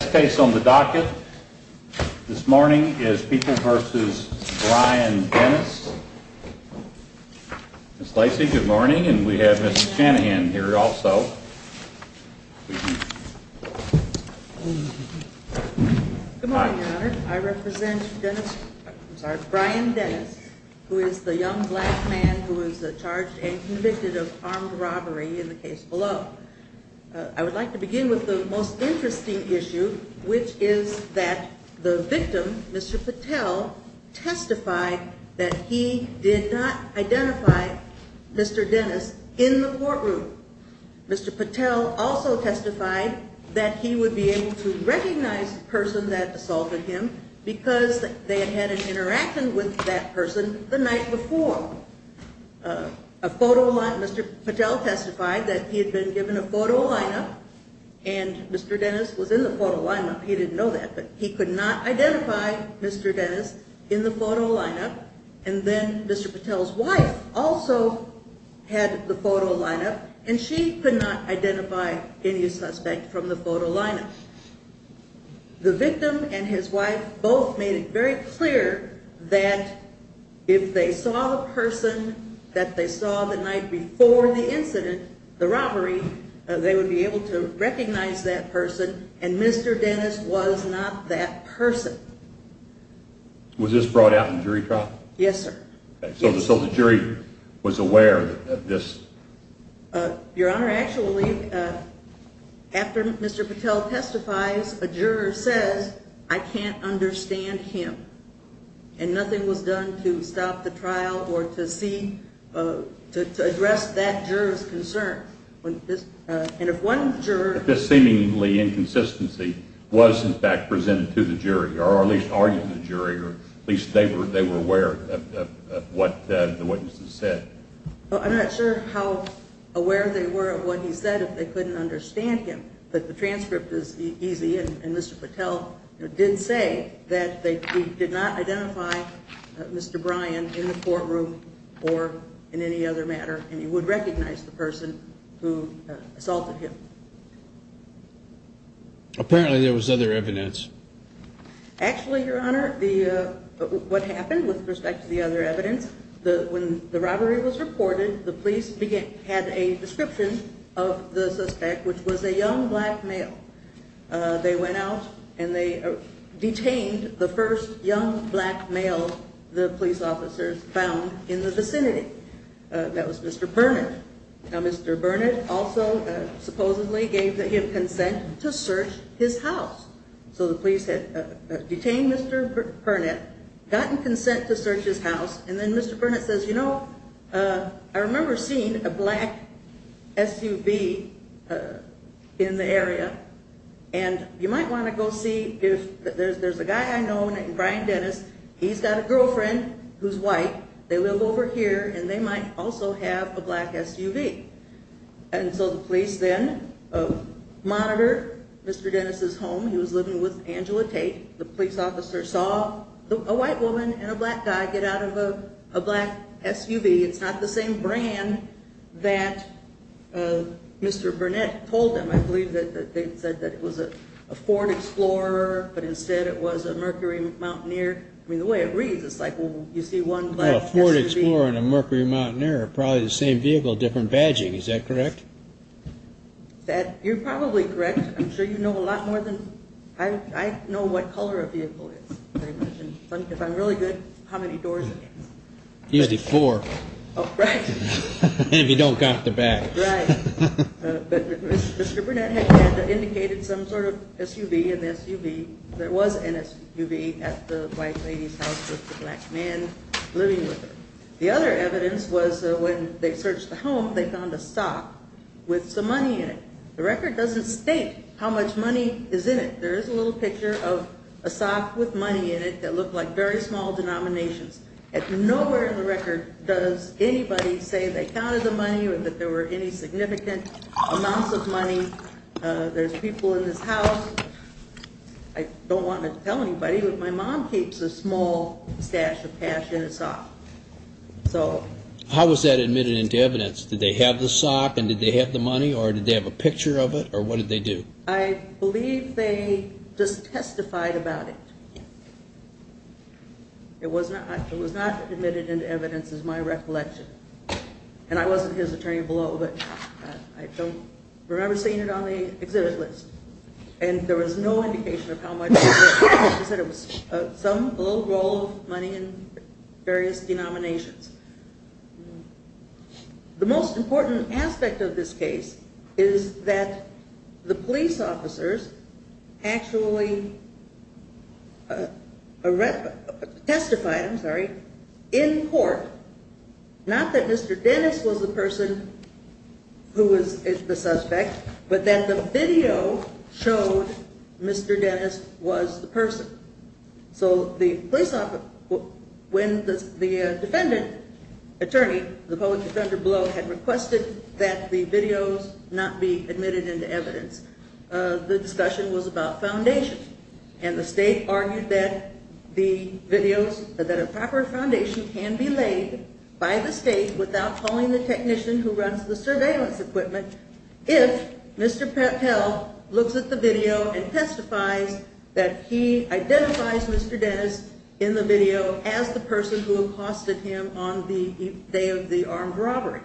The last case on the docket this morning is Peoples v. Brian Dennis. Ms. Lacey, good morning, and we have Ms. Shanahan here also. Good morning, Your Honor. I represent Brian Dennis, who is the young black man who is charged and convicted of armed robbery in the case below. I would like to begin with the most interesting issue, which is that the victim, Mr. Patel, testified that he did not identify Mr. Dennis in the courtroom. Mr. Patel also testified that he would be able to recognize the person that assaulted him because they had had an interaction with that person the night before. Mr. Patel testified that he had been given a photo lineup and Mr. Dennis was in the photo lineup. He didn't know that, but he could not identify Mr. Dennis in the photo lineup. And then Mr. Patel's wife also had the photo lineup and she could not identify any suspect from the photo lineup. The victim and his wife both made it very clear that if they saw the person that they saw the night before the incident, the robbery, they would be able to recognize that person and Mr. Dennis was not that person. Was this brought out in jury trial? Yes, sir. So the jury was aware of this? Your Honor, actually, after Mr. Patel testifies, a juror says, I can't understand him. And nothing was done to stop the trial or to see, to address that juror's concern. And if one juror… But this seemingly inconsistency was, in fact, presented to the jury, or at least argued to the jury, or at least they were aware of what the witnesses said. I'm not sure how aware they were of what he said if they couldn't understand him. But the transcript is easy. And Mr. Patel did say that they did not identify Mr. Bryan in the courtroom or in any other matter. And he would recognize the person who assaulted him. Apparently there was other evidence. Actually, Your Honor, what happened with respect to the other evidence, when the robbery was reported, the police had a description of the suspect, which was a young black male. They went out and they detained the first young black male the police officers found in the vicinity. That was Mr. Burnett. Now, Mr. Burnett also supposedly gave him consent to search his house. So the police had detained Mr. Burnett, gotten consent to search his house, and then Mr. Burnett says, You know, I remember seeing a black SUV in the area, and you might want to go see if… There's a guy I know named Bryan Dennis. He's got a girlfriend who's white. They live over here, and they might also have a black SUV. And so the police then monitored Mr. Dennis' home. He was living with Angela Tate. The police officer saw a white woman and a black guy get out of a black SUV. It's not the same brand that Mr. Burnett told them. I believe that they said that it was a Ford Explorer, but instead it was a Mercury Mountaineer. I mean, the way it reads, it's like, well, you see one black SUV… It's probably the same vehicle, different badging. Is that correct? You're probably correct. I'm sure you know a lot more than… I know what color a vehicle is. If I'm really good, how many doors it has. Usually four. Right. And if you don't count the back. Right. But Mr. Burnett had indicated some sort of SUV in the SUV. There was an SUV at the white lady's house with the black man living with her. The other evidence was when they searched the home, they found a sock with some money in it. The record doesn't state how much money is in it. There is a little picture of a sock with money in it that looked like very small denominations. Nowhere in the record does anybody say they counted the money or that there were any significant amounts of money. There's people in this house. I don't want to tell anybody, but my mom keeps a small stash of cash in a sock. How was that admitted into evidence? Did they have the sock and did they have the money or did they have a picture of it or what did they do? I believe they just testified about it. It was not admitted into evidence is my recollection. And I wasn't his attorney below, but I don't remember seeing it on the exhibit list. And there was no indication of how much it was. He said it was a little roll of money in various denominations. The most important aspect of this case is that the police officers actually testified in court. Not that Mr. Dennis was the person who was the suspect, but that the video showed Mr. Dennis was the person. So the police officer, when the defendant attorney, the public defender below, had requested that the videos not be admitted into evidence, the discussion was about foundation. And the state argued that the videos, that a proper foundation can be laid by the state without calling the technician who runs the surveillance equipment if Mr. Patel looks at the video and testifies that he identifies Mr. Dennis in the video as the person who accosted him on the day of the armed robbery.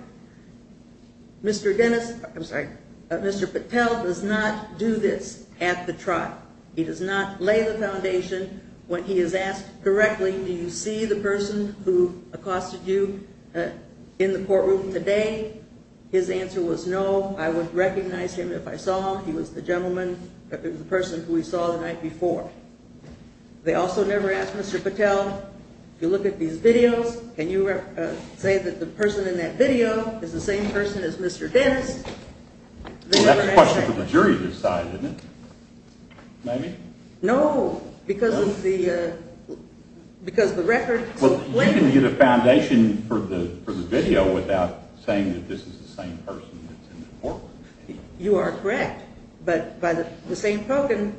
Mr. Dennis, I'm sorry, Mr. Patel does not do this at the trial. He does not lay the foundation when he is asked directly, do you see the person who accosted you in the courtroom today? His answer was no. I would recognize him if I saw him. He was the gentleman, the person who we saw the night before. They also never asked Mr. Patel, if you look at these videos, can you say that the person in that video is the same person as Mr. Dennis? Well, that's a question for the jury to decide, isn't it? Maybe? No, because of the record. Well, you can get a foundation for the video without saying that this is the same person that's in the courtroom. You are correct, but by the same token,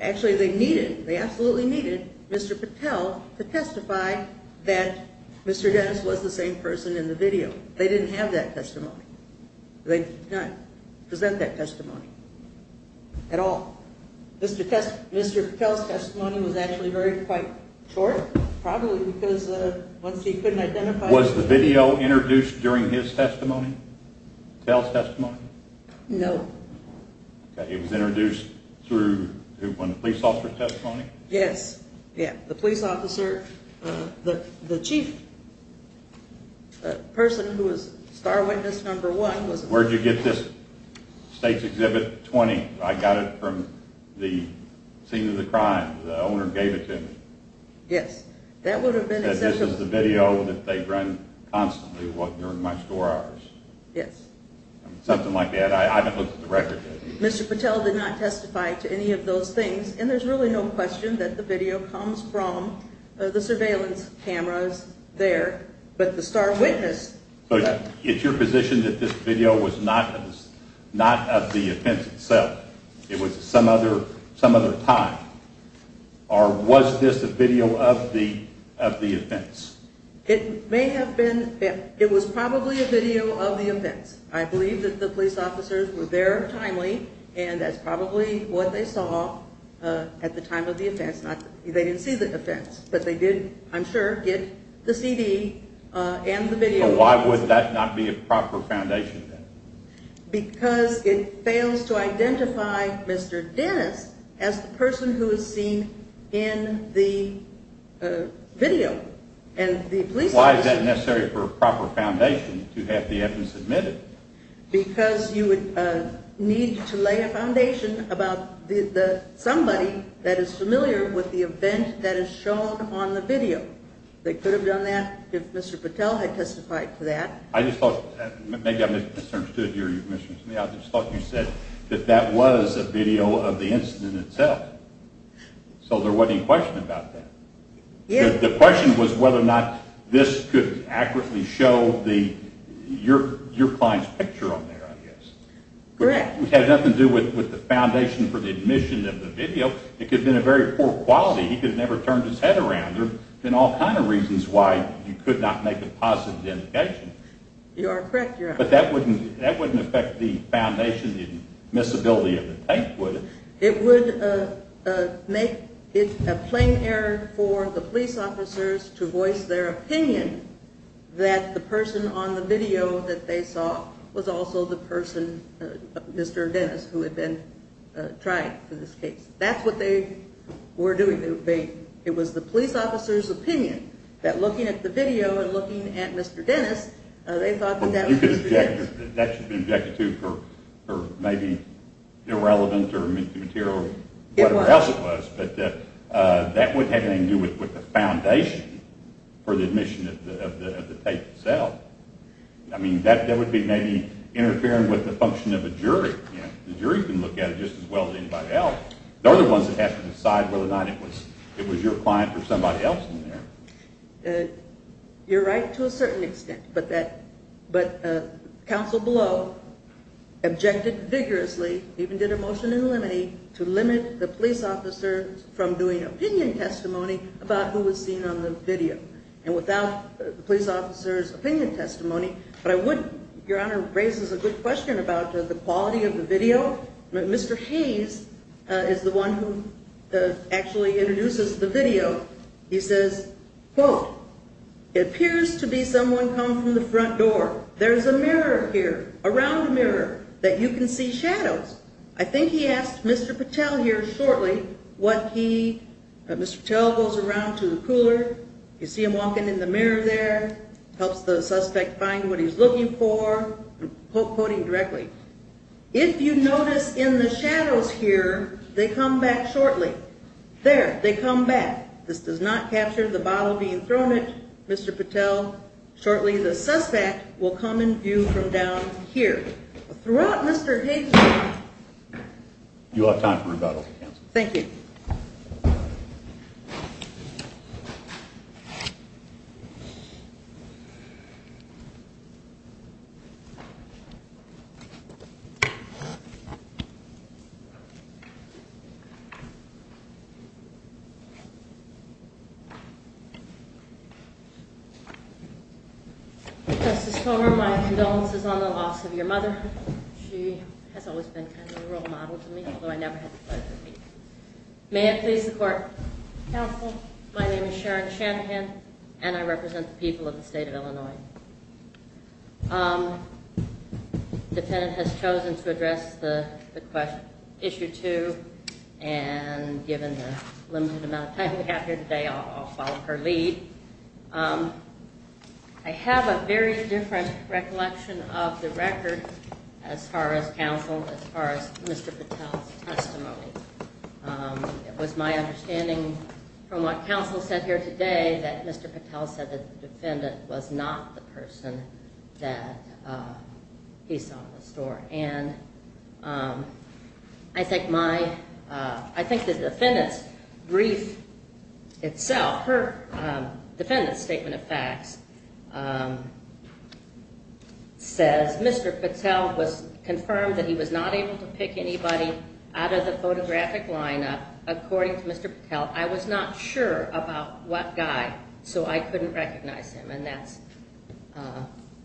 actually they needed, they absolutely needed Mr. Patel to testify that Mr. Dennis was the same person in the video. They didn't have that testimony. They did not present that testimony at all. Mr. Patel's testimony was actually quite short, probably because once he couldn't identify him. Was the video introduced during his testimony, Patel's testimony? No. It was introduced when the police officer testified? Yes, the police officer, the chief person who was star witness number one. Where did you get this State's Exhibit 20? I got it from the scene of the crime. The owner gave it to me. Yes, that would have been accessible. He said this is the video that they run constantly during my score hours. Yes. Something like that. I haven't looked at the record yet. Mr. Patel did not testify to any of those things, and there's really no question that the video comes from the surveillance cameras there, but the star witness. It's your position that this video was not of the offense itself. It was some other time, or was this a video of the offense? It may have been. It was probably a video of the offense. I believe that the police officers were there timely, and that's probably what they saw at the time of the offense. They didn't see the offense, but they did, I'm sure, get the CD and the video. Why would that not be a proper foundation? Because it fails to identify Mr. Dennis as the person who is seen in the video. Why is that necessary for a proper foundation to have the evidence admitted? Because you would need to lay a foundation about somebody that is familiar with the event that is shown on the video. They could have done that if Mr. Patel had testified to that. I just thought you said that that was a video of the incident itself, so there wasn't any question about that. The question was whether or not this could accurately show your client's picture on there, I guess. It had nothing to do with the foundation for the admission of the video. It could have been a very poor quality. He could have never turned his head around there. There are all kinds of reasons why you could not make a positive indication. You are correct, Your Honor. But that wouldn't affect the foundation, the admissibility of the tape, would it? It would make it a plain error for the police officers to voice their opinion that the person on the video that they saw was also the person, Mr. Dennis, who had been tried for this case. That's what they were doing. It was the police officer's opinion that looking at the video and looking at Mr. Dennis, they thought that that was Mr. Dennis. That should have been objected to for maybe irrelevant material or whatever else it was. But that wouldn't have anything to do with the foundation for the admission of the tape itself. I mean, that would be maybe interfering with the function of a jury. The jury can look at it just as well as anybody else. They're the ones that have to decide whether or not it was your client or somebody else in there. You're right to a certain extent. But counsel below objected vigorously, even did a motion in limine to limit the police officer from doing opinion testimony about who was seen on the video. And without the police officer's opinion testimony, Your Honor raises a good question about the quality of the video. Mr. Hayes is the one who actually introduces the video. He says, quote, It appears to be someone come from the front door. There is a mirror here, around the mirror, that you can see shadows. I think he asked Mr. Patel here shortly what he, Mr. Patel goes around to the cooler. You see him walking in the mirror there. Helps the suspect find what he's looking for. Quoting directly, If you notice in the shadows here, they come back shortly. There, they come back. This does not capture the bottle being thrown at Mr. Patel. Shortly, the suspect will come in view from down here. Throughout Mr. Hayes' time, You have time for rebuttal. Thank you. Thank you. Justice Toner, my condolences on the loss of your mother. She has always been kind of a role model to me, although I never had the pleasure of meeting her. May I please the court. Counsel, my name is Sharon Shanahan, and I represent the people of the state of Illinois. The defendant has chosen to address the question, issue two, and given the limited amount of time we have here today, I'll follow her lead. I have a very different recollection of the record as far as counsel, as far as Mr. Patel's testimony. It was my understanding from what counsel said here today that Mr. Patel said the defendant was not the person that he saw in the store. And I think my, I think the defendant's brief itself, her defendant's statement of facts, says Mr. Patel was confirmed that he was not able to pick anybody out of the photographic lineup, according to Mr. Patel. I was not sure about what guy, so I couldn't recognize him. And that's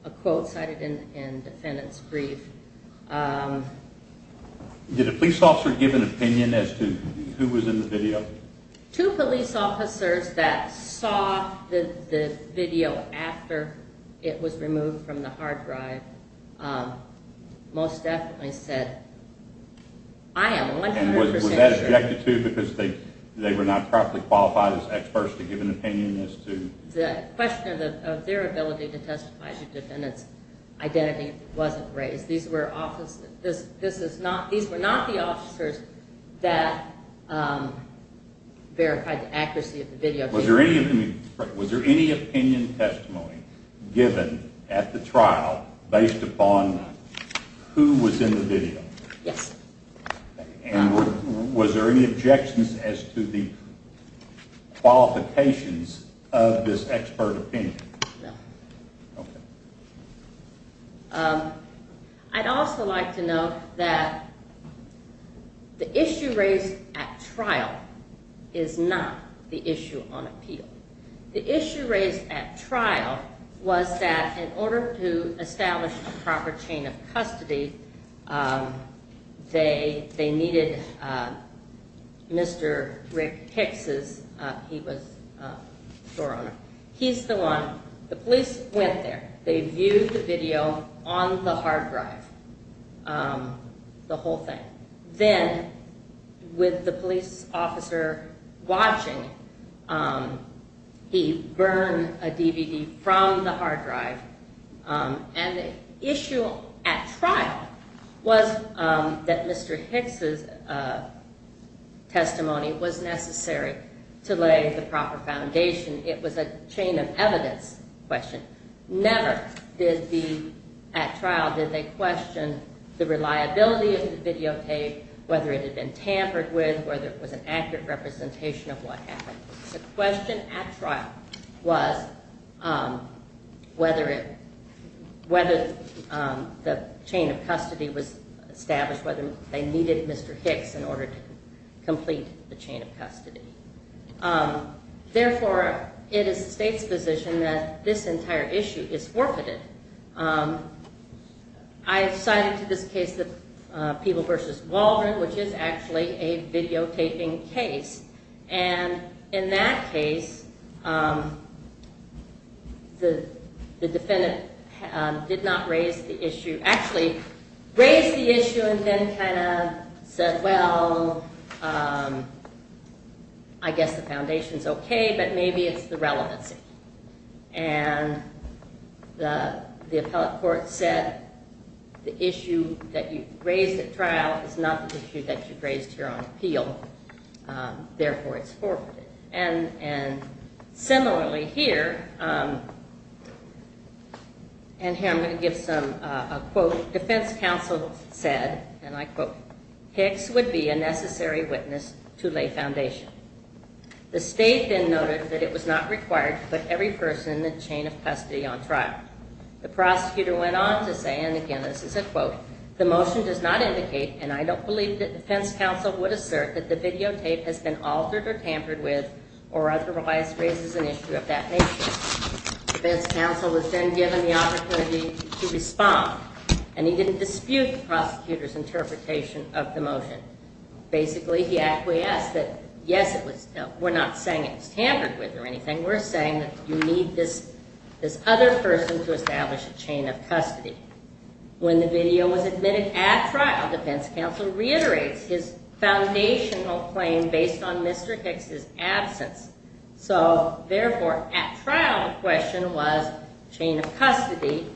a quote cited in the defendant's brief. Did a police officer give an opinion as to who was in the video? Two police officers that saw the video after it was removed from the hard drive most definitely said, I am 100% sure. And was that objected to because they were not properly qualified as experts to give an opinion as to? The question of their ability to testify as a defendant's identity wasn't raised. These were not the officers that verified the accuracy of the video. Was there any opinion testimony given at the trial based upon who was in the video? Yes. And was there any objections as to the qualifications of this expert opinion? No. Okay. I'd also like to note that the issue raised at trial is not the issue on appeal. The issue raised at trial was that in order to establish a proper chain of custody, they needed Mr. Rick Hicks. He was the store owner. He's the one. The police went there. They viewed the video on the hard drive, the whole thing. Then with the police officer watching, he burned a DVD from the hard drive. And the issue at trial was that Mr. Hicks' testimony was necessary to lay the proper foundation. It was a chain of evidence question. Never at trial did they question the reliability of the videotape, whether it had been tampered with, whether it was an accurate representation of what happened. The question at trial was whether the chain of custody was established, whether they needed Mr. Hicks in order to complete the chain of custody. Therefore, it is the state's position that this entire issue is forfeited. I have cited to this case the Peeble v. Waldron, which is actually a videotaping case. And in that case, the defendant did not raise the issue. Actually, raised the issue and then kind of said, well, I guess the foundation is okay, but maybe it's the relevancy. And the appellate court said the issue that you raised at trial is not the issue that you raised here on appeal. Therefore, it's forfeited. And similarly here, and here I'm going to give a quote. Defense counsel said, and I quote, Hicks would be a necessary witness to lay foundation. The state then noted that it was not required to put every person in the chain of custody on trial. The prosecutor went on to say, and again, this is a quote, the motion does not indicate, and I don't believe that defense counsel would assert that the videotape has been altered or tampered with or otherwise raises an issue of that nature. Defense counsel was then given the opportunity to respond, and he didn't dispute the prosecutor's interpretation of the motion. Basically, he acquiesced that, yes, we're not saying it was tampered with or anything. We're saying that you need this other person to establish a chain of custody. When the video was admitted at trial, defense counsel reiterates his foundational claim based on Mr. Hicks' absence. So, therefore, at trial the question was chain of custody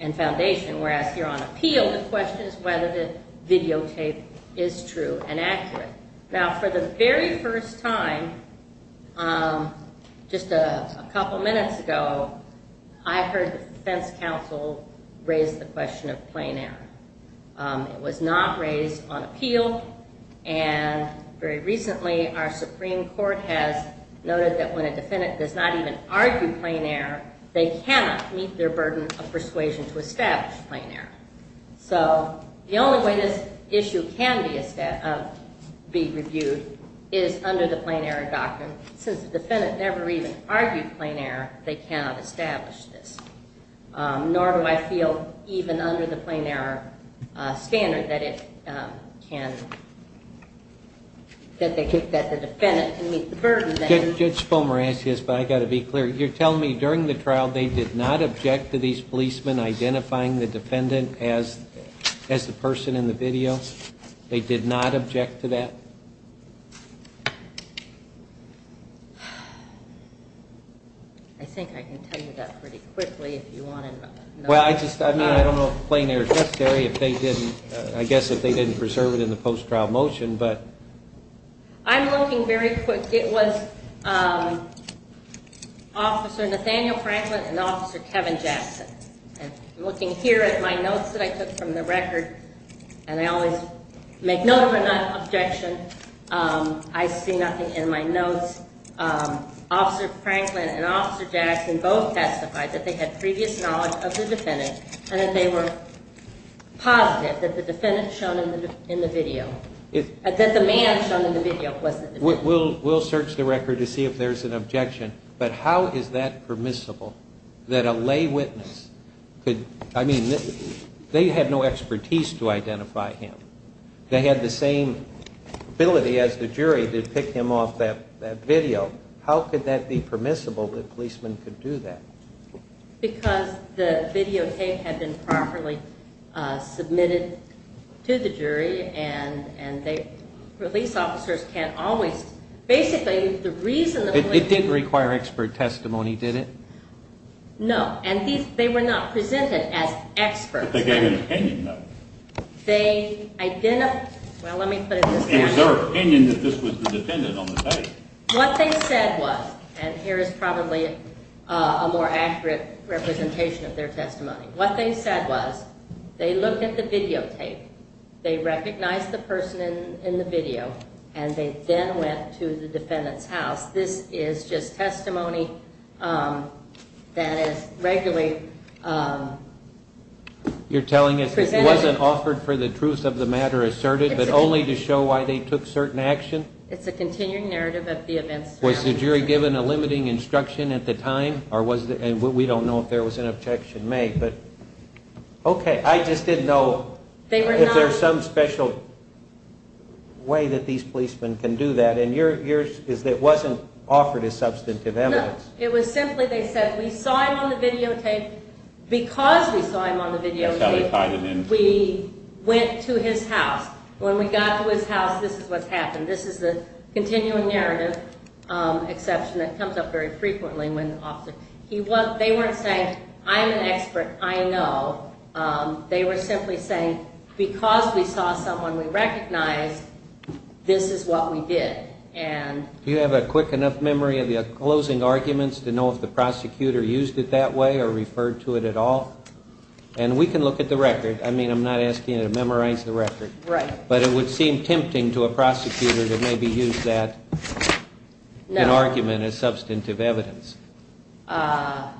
and foundation, whereas here on appeal the question is whether the videotape is true and accurate. Now, for the very first time, just a couple minutes ago, I heard defense counsel raise the question of plain error. It was not raised on appeal, and very recently our Supreme Court has noted that when a defendant does not even argue plain error, they cannot meet their burden of persuasion to establish plain error. So the only way this issue can be reviewed is under the plain error doctrine. Since the defendant never even argued plain error, they cannot establish this, nor do I feel even under the plain error standard that the defendant can meet the burden. Judge Fulmer asked this, but I've got to be clear. You're telling me during the trial they did not object to these policemen identifying the defendant as the person in the video? They did not object to that? I think I can tell you that pretty quickly if you want to know. Well, I don't know if plain error is necessary. I guess if they didn't preserve it in the post-trial motion, but... I'm looking very quick. It was Officer Nathaniel Franklin and Officer Kevin Jackson. I'm looking here at my notes that I took from the record, and I always make note of an objection. I see nothing in my notes. Officer Franklin and Officer Jackson both testified that they had previous knowledge of the defendant and that they were positive that the defendant shown in the video, that the man shown in the video wasn't the defendant. We'll search the record to see if there's an objection, but how is that permissible that a lay witness could, I mean, they had no expertise to identify him. They had the same ability as the jury to pick him off that video. How could that be permissible that policemen could do that? Because the videotape had been properly submitted to the jury, and the police officers can't always, basically, the reason the police... It didn't require expert testimony, did it? No, and they were not presented as experts. But they gave an opinion, though. They identified, well, let me put it this way. It was their opinion that this was the defendant on the day. What they said was, and here is probably a more accurate representation of their testimony, what they said was they looked at the videotape, they recognized the person in the video, and they then went to the defendant's house. This is just testimony that is regularly presented. You're telling us this wasn't offered for the truth of the matter asserted, but only to show why they took certain action? It's a continuing narrative of the events. Was the jury given a limiting instruction at the time? We don't know if there was an objection made. Okay, I just didn't know if there's some special way that these policemen can do that, and yours is that it wasn't offered as substantive evidence. No, it was simply they said, we saw him on the videotape. Because we saw him on the videotape, we went to his house. When we got to his house, this is what happened. This is a continuing narrative exception that comes up very frequently. They weren't saying, I'm an expert, I know. They were simply saying, because we saw someone we recognized, this is what we did. Do you have a quick enough memory of the closing arguments to know if the prosecutor used it that way or referred to it at all? And we can look at the record. I mean, I'm not asking you to memorize the record. Right. But it would seem tempting to a prosecutor to maybe use that argument as substantive evidence. Again,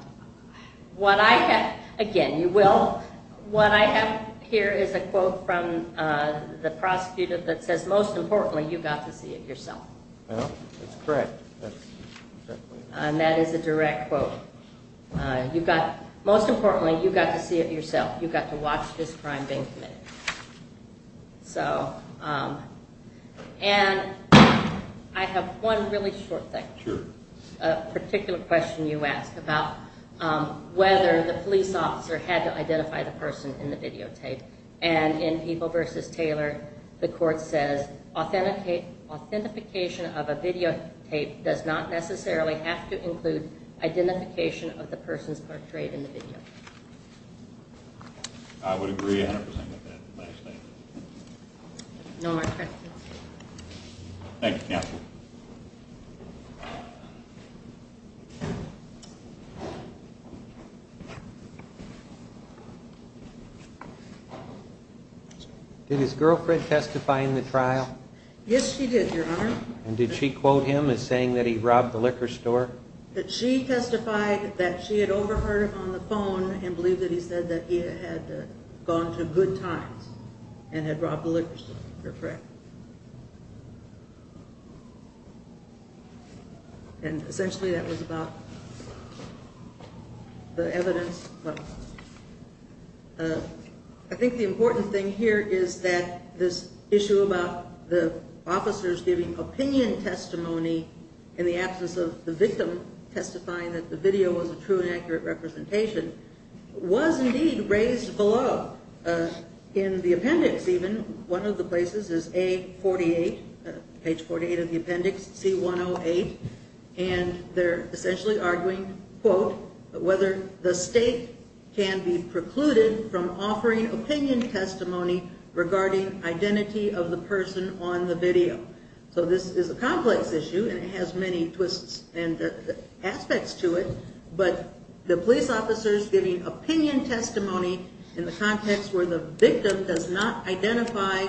you will. What I have here is a quote from the prosecutor that says, most importantly, you got to see it yourself. That's correct. And that is a direct quote. Most importantly, you got to see it yourself. You got to watch this crime being committed. And I have one really short thing. Sure. A particular question you asked about whether the police officer had to identify the person in the videotape. And in People v. Taylor, the court says, authentication of a videotape does not necessarily have to include identification of the persons portrayed in the video. I would agree 100% with that last statement. No more questions. Thank you. Did his girlfriend testify in the trial? Yes, she did, Your Honor. And did she quote him as saying that he robbed the liquor store? She testified that she had overheard him on the phone and believed that he said that he had gone to good times and had robbed the liquor store, her friend. And essentially that was about the evidence. I think the important thing here is that this issue about the officers giving opinion testimony in the absence of the victim testifying that the video was a true and accurate representation was indeed raised below in the appendix even. One of the places is A48, page 48 of the appendix, C108. And they're essentially arguing, quote, whether the state can be precluded from offering opinion testimony regarding identity of the person on the video. So this is a complex issue and it has many twists and aspects to it. But the police officers giving opinion testimony in the context where the victim does not identify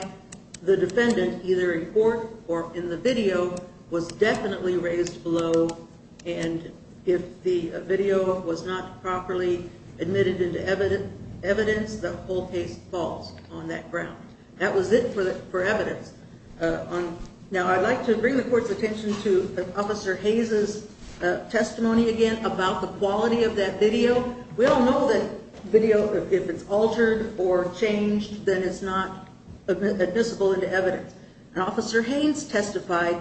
the defendant either in court or in the video was definitely raised below. And if the video was not properly admitted into evidence, the whole case falls on that ground. That was it for evidence. Now, I'd like to bring the court's attention to Officer Hayes' testimony again about the quality of that video. We all know that video, if it's altered or changed, then it's not admissible into evidence. And Officer Hayes testified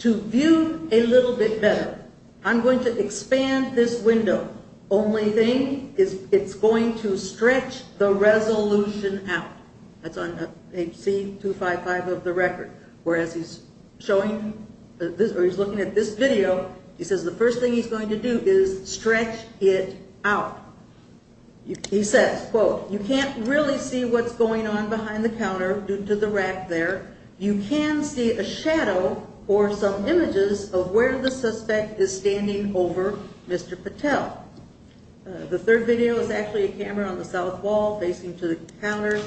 to view a little bit better. I'm going to expand this window. Only thing is it's going to stretch the resolution out. That's on page C255 of the record. Whereas he's looking at this video, he says the first thing he's going to do is stretch it out. He says, quote, you can't really see what's going on behind the counter due to the rack there. You can see a shadow or some images of where the suspect is standing over Mr. Patel. The third video is actually a camera on the south wall facing to the counter.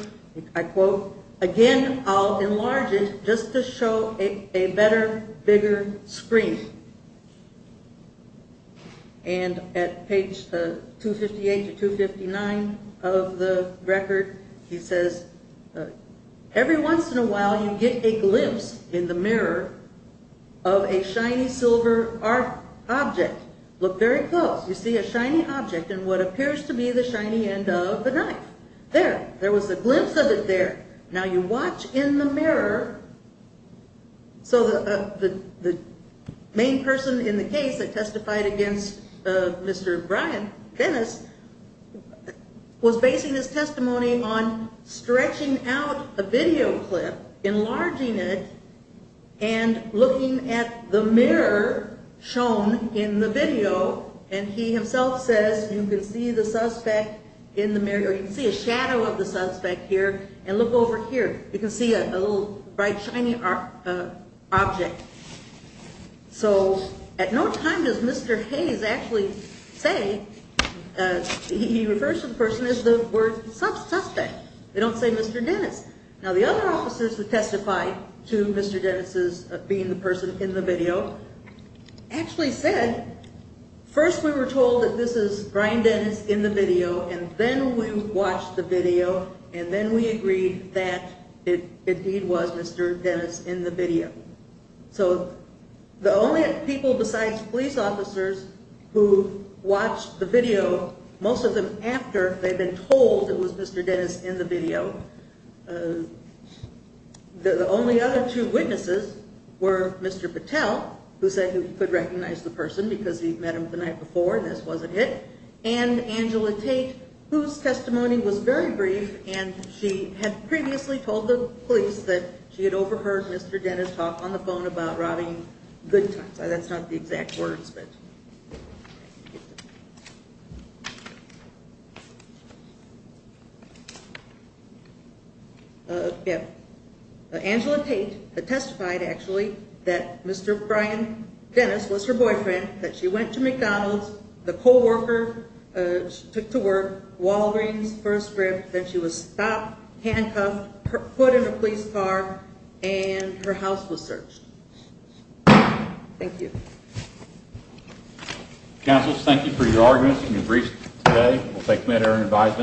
I quote, again, I'll enlarge it just to show a better, bigger screen. And at page 258 to 259 of the record, he says, every once in a while you get a glimpse in the mirror of a shiny silver object. Look very close. You see a shiny object and what appears to be the shiny end of the knife. There. There was a glimpse of it there. Now you watch in the mirror. So the main person in the case that testified against Mr. Dennis was basing his testimony on stretching out a video clip, enlarging it, and looking at the mirror shown in the video. And he himself says you can see the suspect in the mirror. You can see a shadow of the suspect here. And look over here. You can see a little bright, shiny object. So at no time does Mr. Hayes actually say he refers to the person as the word suspect. They don't say Mr. Dennis. Now, the other officers who testified to Mr. Dennis' being the person in the video actually said, first we were told that this is Brian Dennis in the video, and then we watched the video, and then we agreed that it indeed was Mr. Dennis in the video. So the only people besides police officers who watched the video, most of them after they'd been told it was Mr. Dennis in the video, the only other two witnesses were Mr. Patel, who said he could recognize the person because he'd met him the night before and this wasn't it, and Angela Tate, whose testimony was very brief, and she had previously told the police that she had overheard Mr. Dennis talk on the phone about robbing Goodtimes. Sorry, that's not the exact words. Angela Tate testified, actually, that Mr. Brian Dennis was her boyfriend, that she went to McDonald's, the co-worker took to work, wall rings, first rib, then she was stopped, handcuffed, put in a police car, and her house was searched. Thank you. Counsel, thank you for your arguments and your briefs today. We'll take them at our own advisement.